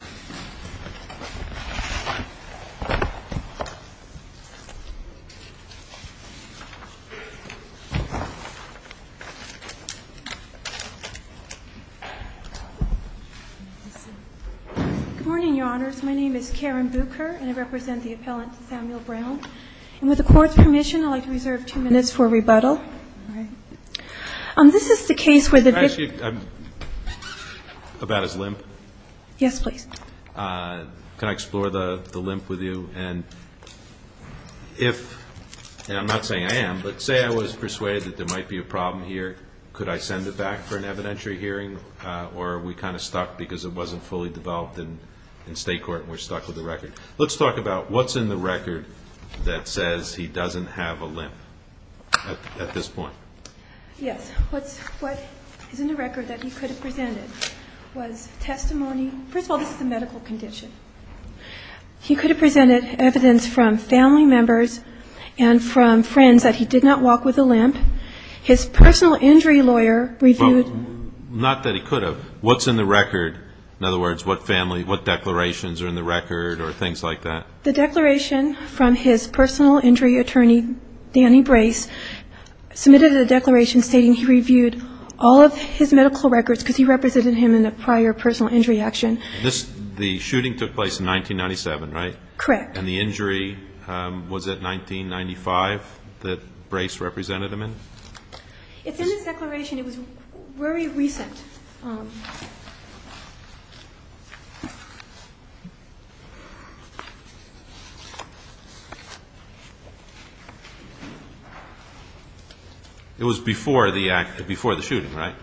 Good morning, Your Honors. My name is Karen Bucher, and I represent the appellant Samuel Brown. And with the Court's permission, I'd like to reserve two minutes for rebuttal. This is the case where the victim... Can I ask you about his limp? Yes, please. Can I explore the limp with you? And if, and I'm not saying I am, but say I was persuaded that there might be a problem here. Could I send it back for an evidentiary hearing? Or are we kind of stuck because it wasn't fully developed in state court and we're stuck with the record? Let's talk about what's in the record that says he doesn't have a limp at this point. Yes. What is in the record that he could have presented was testimony. First of all, this is a medical condition. He could have presented evidence from family members and from friends that he did not walk with a limp. His personal injury lawyer reviewed... Well, not that he could have. What's in the record? In other words, what family, what declarations are in the record or things like that? The declaration from his personal injury attorney, Danny Brace, submitted a declaration stating he reviewed all of his medical records because he represented him in a prior personal injury action. The shooting took place in 1997, right? Correct. And the injury was at 1995 that Brace represented him in? It's in this declaration. It was very recent. It was before the shooting, right?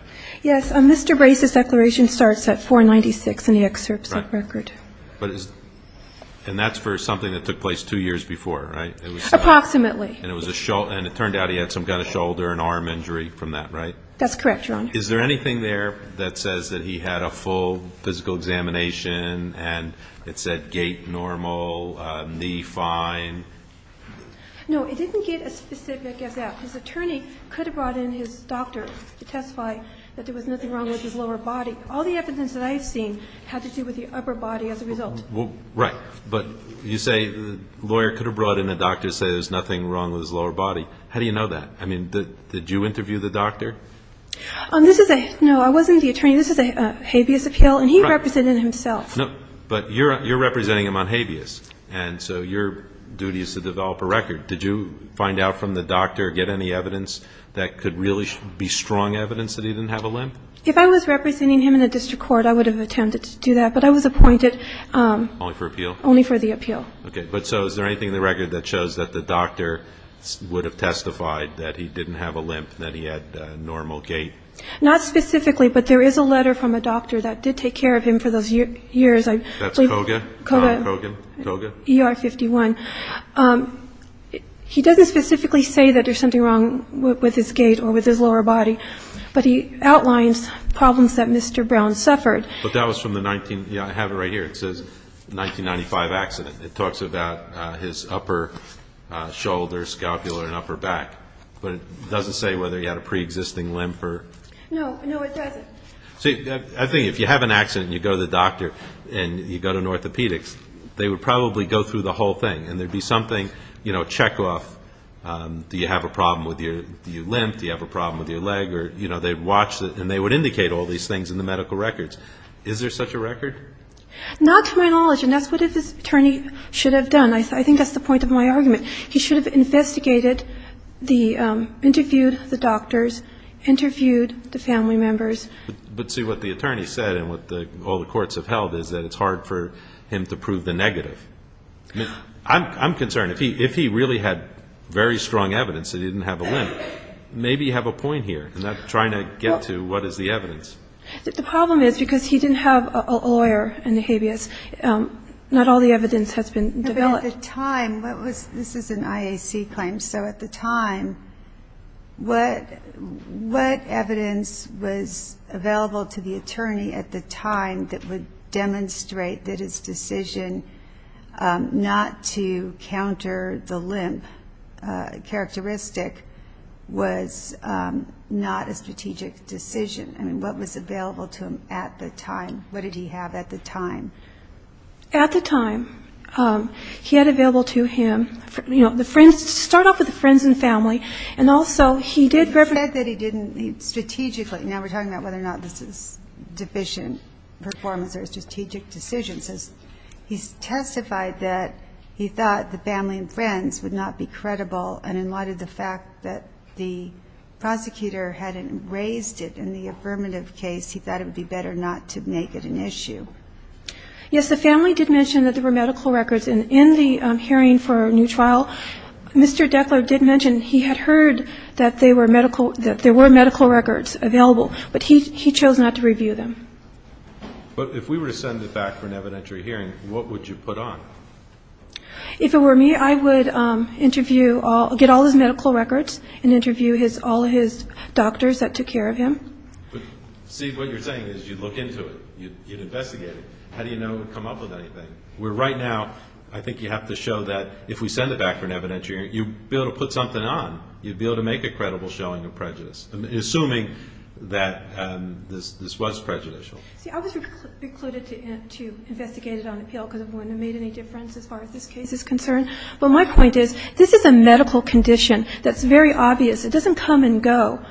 Yes. Mr. Brace's declaration starts at 496 in the excerpt set record. And that's for something that took place two years before, right? Approximately. And it turned out he had some kind of shoulder and arm injury from that, right? That's correct, Your Honor. Is there anything there that says that he had a full physical examination and it said gait normal, knee fine? No, it didn't get as specific as that. His attorney could have brought in his doctor to testify that there was nothing wrong with his lower body. All the evidence that I've seen had to do with the upper body as a result. Right. But you say the lawyer could have brought in a doctor to say there's nothing wrong with his lower body. How do you know that? I mean, did you interview the doctor? No, I wasn't the attorney. This is a habeas appeal, and he represented himself. But you're representing him on habeas, and so your duty is to develop a record. Did you find out from the doctor, get any evidence that could really be strong evidence that he didn't have a limp? If I was representing him in a district court, I would have attempted to do that, but I was appointed. Only for appeal? Only for the appeal. Okay. But so is there anything in the record that shows that the doctor would have testified that he didn't have a limp, that he had normal gait? Not specifically, but there is a letter from a doctor that did take care of him for those years. That's Koga? Koga. Koga? ER-51. He doesn't specifically say that there's something wrong with his gait or with his lower body, but he outlines problems that Mr. Brown suffered. But that was from the 19 ñ yeah, I have it right here. It says 1995 accident. It talks about his upper shoulder, scapula, and upper back. But it doesn't say whether he had a preexisting limp or ñ No, no, it doesn't. See, I think if you have an accident and you go to the doctor and you go to an orthopedic, they would probably go through the whole thing, and there would be something, you know, check off. Do you have a problem with your limp? Do you have a problem with your leg? And they would indicate all these things in the medical records. Is there such a record? Not to my knowledge, and that's what his attorney should have done. I think that's the point of my argument. He should have investigated the ñ interviewed the doctors, interviewed the family members. But, see, what the attorney said and what all the courts have held is that it's hard for him to prove the negative. I'm concerned. If he really had very strong evidence that he didn't have a limp, maybe you have a point here, and not trying to get to what is the evidence. The problem is because he didn't have a lawyer in the habeas, not all the evidence has been developed. But at the time, what was ñ this is an IAC claim. So at the time, what evidence was available to the attorney at the time that would demonstrate that his decision not to counter the limp characteristic was not a strategic decision? I mean, what was available to him at the time? What did he have at the time? At the time, he had available to him, you know, the friends ñ to start off with the friends and family. And also he did ñ He said that he didn't ñ strategically. Now we're talking about whether or not this is deficient performance or a strategic decision. He testified that he thought the family and friends would not be credible. And in light of the fact that the prosecutor hadn't raised it in the affirmative case, he thought it would be better not to make it an issue. Yes, the family did mention that there were medical records. And in the hearing for a new trial, Mr. Dekler did mention he had heard that they were medical ñ that there were medical records available. But he chose not to review them. But if we were to send it back for an evidentiary hearing, what would you put on? If it were me, I would interview all ñ get all his medical records and interview his ñ all his doctors that took care of him. See, what you're saying is you'd look into it. You'd investigate it. How do you know it would come up with anything? Where right now, I think you have to show that if we send it back for an evidentiary hearing, you'd be able to put something on. You'd be able to make a credible showing of prejudice, assuming that this was prejudicial. See, I was recluded to investigate it on appeal because it wouldn't have made any difference as far as this case is concerned. But my point is this is a medical condition that's very obvious. It doesn't come and go.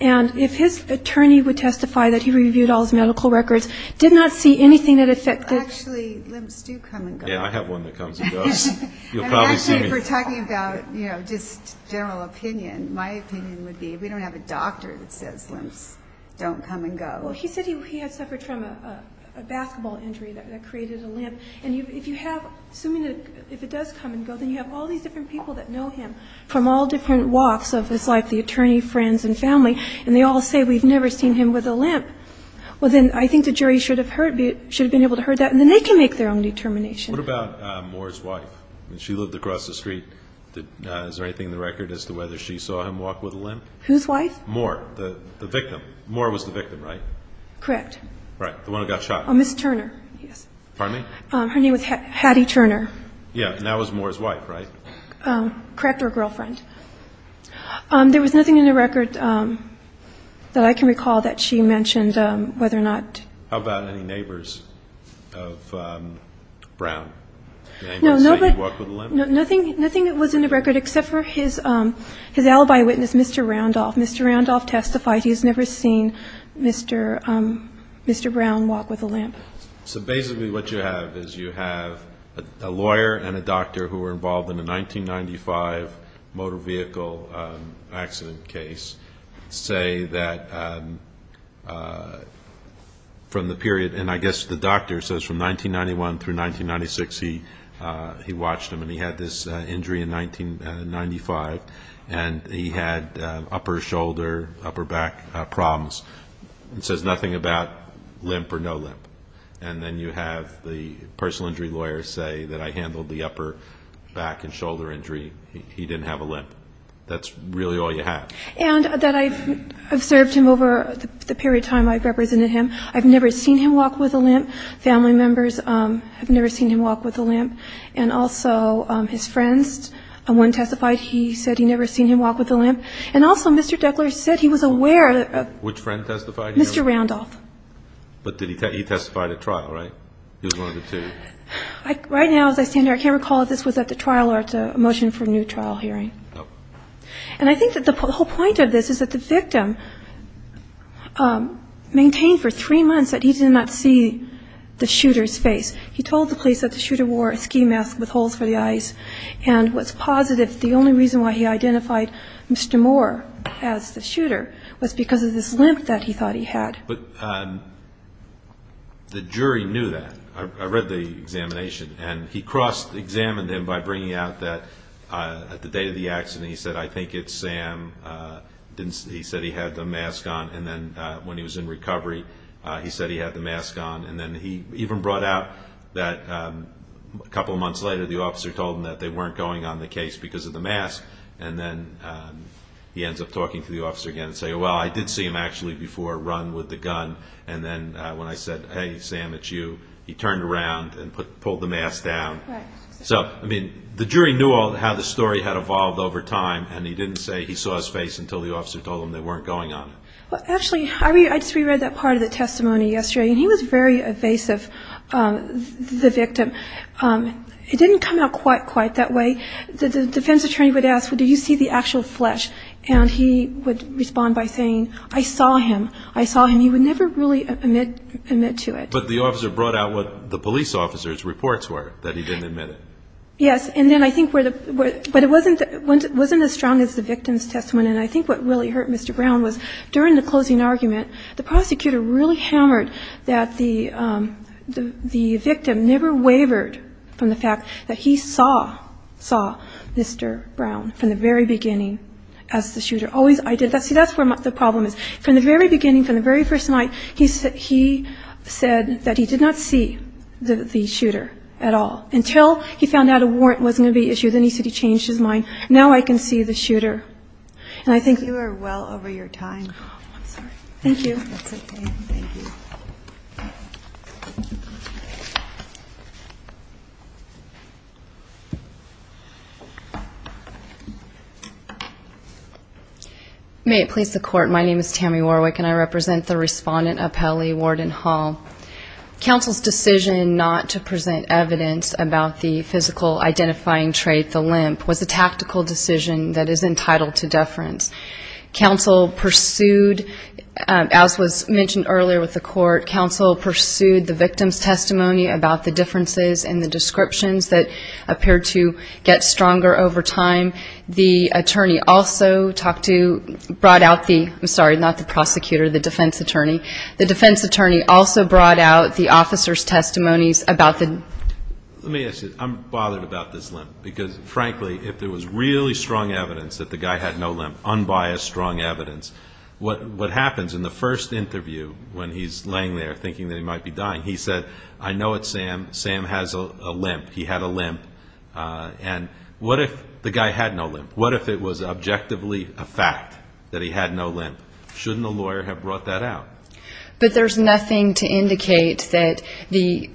And if his attorney would testify that he reviewed all his medical records, did not see anything that affected ñ Well, actually, limps do come and go. Yeah, I have one that comes and goes. You'll probably see me ñ And actually, if we're talking about, you know, just general opinion, my opinion would be if we don't have a doctor that says limps don't come and go. Well, he said he had suffered from a basketball injury that created a limp. And if you have ñ assuming that if it does come and go, then you have all these different people that know him from all different walks of his life, the attorney, friends, and family, and they all say we've never seen him with a limp. Well, then I think the jury should have been able to heard that, and then they can make their own determination. What about Moore's wife? I mean, she lived across the street. Is there anything in the record as to whether she saw him walk with a limp? Whose wife? Moore, the victim. Moore was the victim, right? Correct. Right, the one who got shot. Oh, Ms. Turner, yes. Pardon me? Her name was Hattie Turner. Yeah, and that was Moore's wife, right? Correct, her girlfriend. There was nothing in the record that I can recall that she mentioned whether or not ñ How about any neighbors of Brown? Did anyone say he walked with a limp? No, nothing that was in the record except for his alibi witness, Mr. Randolph. Mr. Randolph testified he has never seen Mr. Brown walk with a limp. So basically what you have is you have a lawyer and a doctor who were involved in a 1995 motor vehicle accident case say that from the period ñ and I guess the doctor says from 1991 through 1996 he watched him and he had this injury in 1995 and he had upper shoulder, upper back problems and says nothing about limp or no limp. And then you have the personal injury lawyer say that I handled the upper back and shoulder injury. He didn't have a limp. That's really all you have. And that I've served him over the period of time I've represented him. I've never seen him walk with a limp. Family members have never seen him walk with a limp. And also his friends, one testified he said he'd never seen him walk with a limp. And also Mr. Deckler said he was aware of ñ Which friend testified? Mr. Randolph. But he testified at trial, right? He was one of the two. Right now as I stand here I can't recall if this was at the trial or it's a motion for a new trial hearing. No. And I think that the whole point of this is that the victim maintained for three months that he did not see the shooter's face. He told the police that the shooter wore a ski mask with holes for the eyes and was positive the only reason why he identified Mr. Moore as the shooter was because of this limp that he thought he had. But the jury knew that. I read the examination. And he cross-examined him by bringing out that at the date of the accident he said, I think it's Sam. He said he had the mask on. And then when he was in recovery he said he had the mask on. And then he even brought out that a couple of months later the officer told him that they weren't going on the case because of the mask. And then he ends up talking to the officer again and saying, well, I did see him actually before run with the gun. And then when I said, hey, Sam, it's you, he turned around and pulled the mask down. So, I mean, the jury knew how the story had evolved over time. And he didn't say he saw his face until the officer told him they weren't going on it. Well, actually, I just reread that part of the testimony yesterday. And he was very evasive, the victim. It didn't come out quite that way. The defense attorney would ask, well, do you see the actual flesh? And he would respond by saying, I saw him, I saw him. He would never really admit to it. But the officer brought out what the police officer's reports were, that he didn't admit it. Yes. And then I think where the – but it wasn't as strong as the victim's testimony. And I think what really hurt Mr. Brown was during the closing argument, the prosecutor really hammered that the victim never wavered from the fact that he saw, saw Mr. Brown from the very beginning as the shooter. Always – see, that's where the problem is. From the very beginning, from the very first night, he said that he did not see the shooter at all until he found out a warrant wasn't going to be issued. Then he said he changed his mind. Now I can see the shooter. And I think – You are well over your time. I'm sorry. That's okay. Thank you. May it please the Court. My name is Tammy Warwick, and I represent the respondent appellee, Warden Hall. Counsel's decision not to present evidence about the physical identifying trait, the limp, was a tactical decision that is entitled to deference. Counsel pursued, as was mentioned earlier with the court, counsel pursued the victim's testimony about the differences in the descriptions that appeared to get stronger over time. The attorney also talked to – brought out the – I'm sorry, not the prosecutor, the defense attorney. The defense attorney also brought out the officer's testimonies about the – Let me ask you. I'm bothered about this limp because, frankly, if there was really strong evidence that the guy had no limp, unbiased, strong evidence, what happens in the first interview when he's laying there thinking that he might be dying, he said, I know it's Sam. Sam has a limp. He had a limp. And what if the guy had no limp? What if it was objectively a fact that he had no limp? Shouldn't a lawyer have brought that out? But there's nothing to indicate that the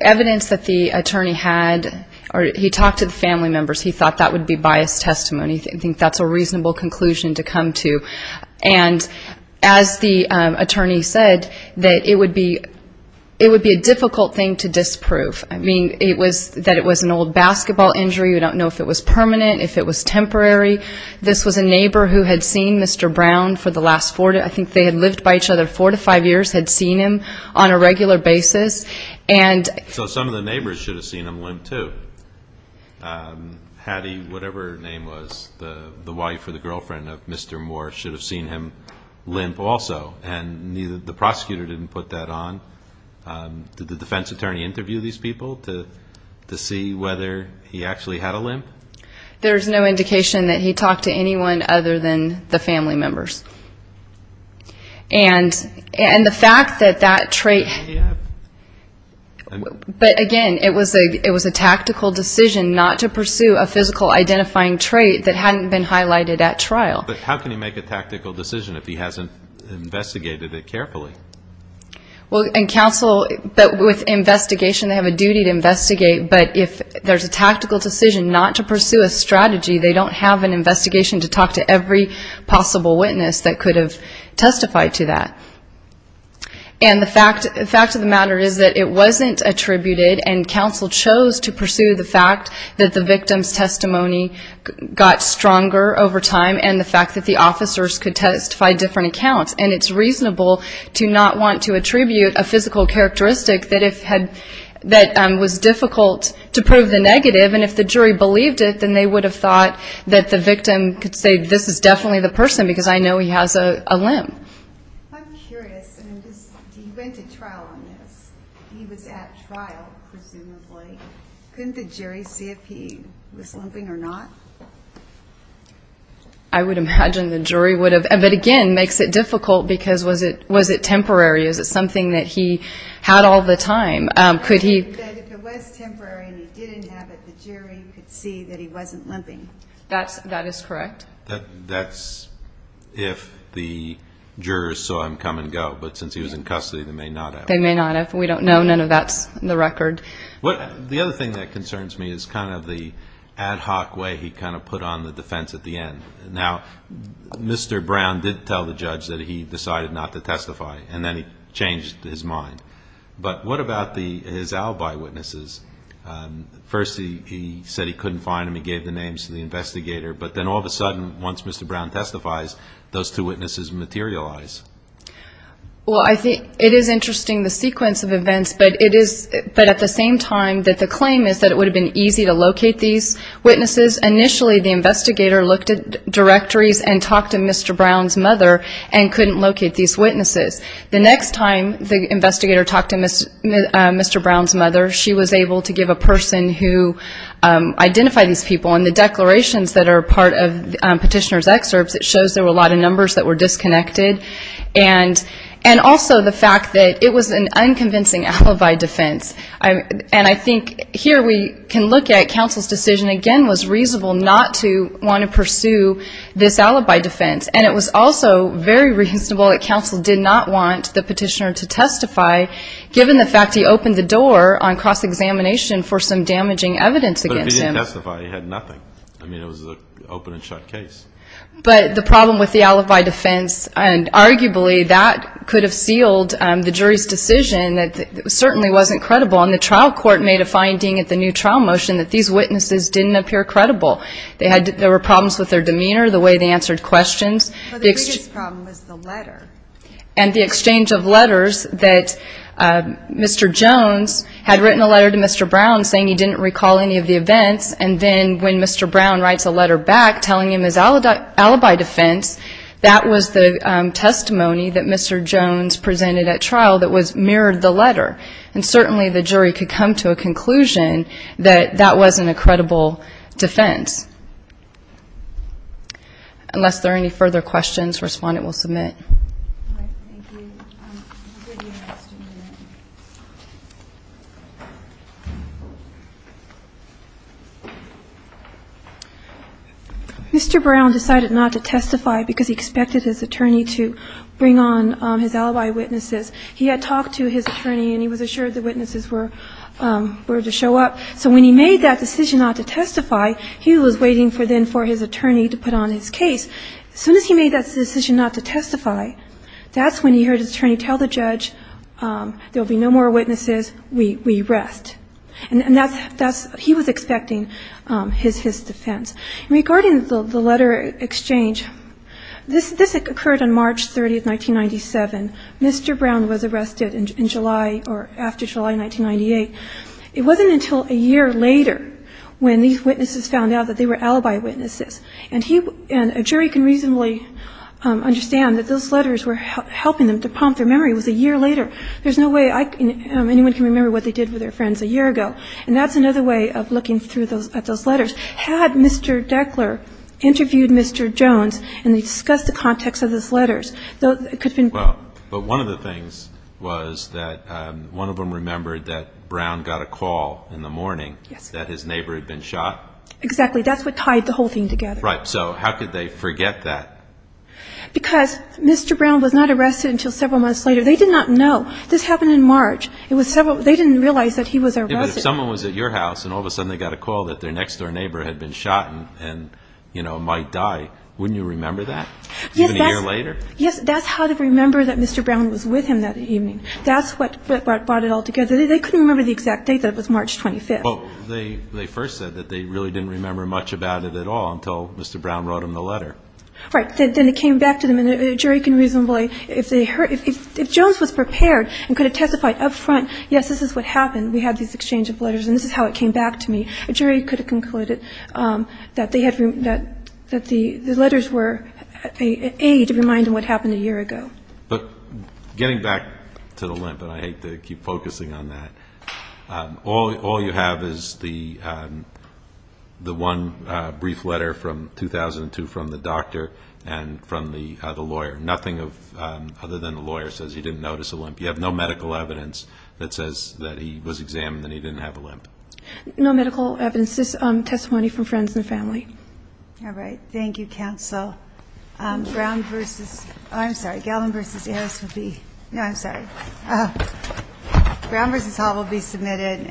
evidence that the attorney had – he talked to the family members. He thought that would be biased testimony. I think that's a reasonable conclusion to come to. And as the attorney said, that it would be a difficult thing to disprove. I mean, it was – that it was an old basketball injury. We don't know if it was permanent, if it was temporary. This was a neighbor who had seen Mr. Brown for the last – I think they had lived by each other four to five years, had seen him on a regular basis. So some of the neighbors should have seen him limp too. Hattie, whatever her name was, the wife or the girlfriend of Mr. Moore, should have seen him limp also. And the prosecutor didn't put that on. Did the defense attorney interview these people to see whether he actually had a limp? There's no indication that he talked to anyone other than the family members. And the fact that that trait – but, again, it was a tactical decision not to pursue a physical identifying trait that hadn't been highlighted at trial. But how can he make a tactical decision if he hasn't investigated it carefully? Well, and counsel – but with investigation, they have a duty to investigate. But if there's a tactical decision not to pursue a strategy, they don't have an investigation to talk to every possible witness that could have testified to that. And the fact of the matter is that it wasn't attributed, and counsel chose to pursue the fact that the victim's testimony got stronger over time and the fact that the officers could testify different accounts. And it's reasonable to not want to attribute a physical characteristic that was difficult to prove the negative. And if the jury believed it, then they would have thought that the victim could say, this is definitely the person because I know he has a limb. I'm curious. He went to trial on this. He was at trial, presumably. Couldn't the jury see if he was limping or not? I would imagine the jury would have. But, again, makes it difficult because was it temporary? Is it something that he had all the time? If it was temporary and he didn't have it, the jury could see that he wasn't limping. That is correct. That's if the jurors saw him come and go. But since he was in custody, they may not have. They may not have. We don't know. None of that's in the record. The other thing that concerns me is kind of the ad hoc way he kind of put on the defense at the end. Now, Mr. Brown did tell the judge that he decided not to testify, and then he changed his mind. But what about his alibi witnesses? First he said he couldn't find them. He gave the names to the investigator. But then all of a sudden, once Mr. Brown testifies, those two witnesses materialize. Well, I think it is interesting, the sequence of events. But at the same time, the claim is that it would have been easy to locate these witnesses. Initially the investigator looked at directories and talked to Mr. Brown's mother and couldn't locate these witnesses. The next time the investigator talked to Mr. Brown's mother, she was able to give a person who identified these people. And the declarations that are part of Petitioner's excerpts, it shows there were a lot of numbers that were disconnected. And also the fact that it was an unconvincing alibi defense. And I think here we can look at counsel's decision, again, was reasonable not to want to pursue this alibi defense. And it was also very reasonable that counsel did not want the petitioner to testify, given the fact he opened the door on cross-examination for some damaging evidence against him. But if he didn't testify, he had nothing. I mean, it was an open-and-shut case. But the problem with the alibi defense, and arguably that could have sealed the jury's decision that it certainly wasn't credible. And the trial court made a finding at the new trial motion that these witnesses didn't appear credible. There were problems with their demeanor, the way they answered questions. The biggest problem was the letter. And the exchange of letters that Mr. Jones had written a letter to Mr. Brown saying he didn't recall any of the events. And then when Mr. Brown writes a letter back telling him his alibi defense, that was the testimony that Mr. Jones presented at trial that mirrored the letter. And certainly the jury could come to a conclusion that that wasn't a credible defense. Unless there are any further questions, respondent will submit. All right. Thank you. I'll give you an extra minute. Mr. Brown decided not to testify because he expected his attorney to bring on his alibi witnesses. He had talked to his attorney, and he was assured the witnesses were to show up. So when he made that decision not to testify, he was waiting for then for his attorney to put on his case. As soon as he made that decision not to testify, that's when he heard his attorney tell the judge, there will be no more witnesses, we rest. And that's he was expecting his defense. Regarding the letter exchange, this occurred on March 30, 1997. Mr. Brown was arrested in July or after July 1998. It wasn't until a year later when these witnesses found out that they were alibi witnesses. And a jury can reasonably understand that those letters were helping them to prompt their memory. It was a year later. There's no way anyone can remember what they did with their friends a year ago. And that's another way of looking at those letters. Had Mr. Deckler interviewed Mr. Jones and discussed the context of those letters, it could have been better. But one of the things was that one of them remembered that Brown got a call in the morning that his neighbor had been shot. Exactly. That's what tied the whole thing together. Right. So how could they forget that? Because Mr. Brown was not arrested until several months later. They did not know. This happened in March. They didn't realize that he was arrested. Yeah, but if someone was at your house and all of a sudden they got a call that their next-door neighbor had been shot and, you know, might die, wouldn't you remember that? Yes. Even a year later? Yes, that's how to remember that Mr. Brown was with him that evening. That's what brought it all together. They couldn't remember the exact date. That was March 25th. Well, they first said that they really didn't remember much about it at all until Mr. Brown wrote them the letter. Right. Then it came back to them. And a jury can reasonably, if they heard ñ if Jones was prepared and could have testified up front, yes, this is what happened, we had this exchange of letters, and this is how it came back to me, a jury could have concluded that they had ñ that the letters were, A, to remind them what happened a year ago. But getting back to the limp, and I hate to keep focusing on that, all you have is the one brief letter from 2002 from the doctor and from the lawyer. Nothing other than the lawyer says he didn't notice a limp. You have no medical evidence that says that he was examined and he didn't have a limp. No medical evidence. This is testimony from friends and family. All right. Thank you, counsel. Brown v. ñ oh, I'm sorry. Gallen v. Harris will be ñ no, I'm sorry. Brown v. Hall will be submitted.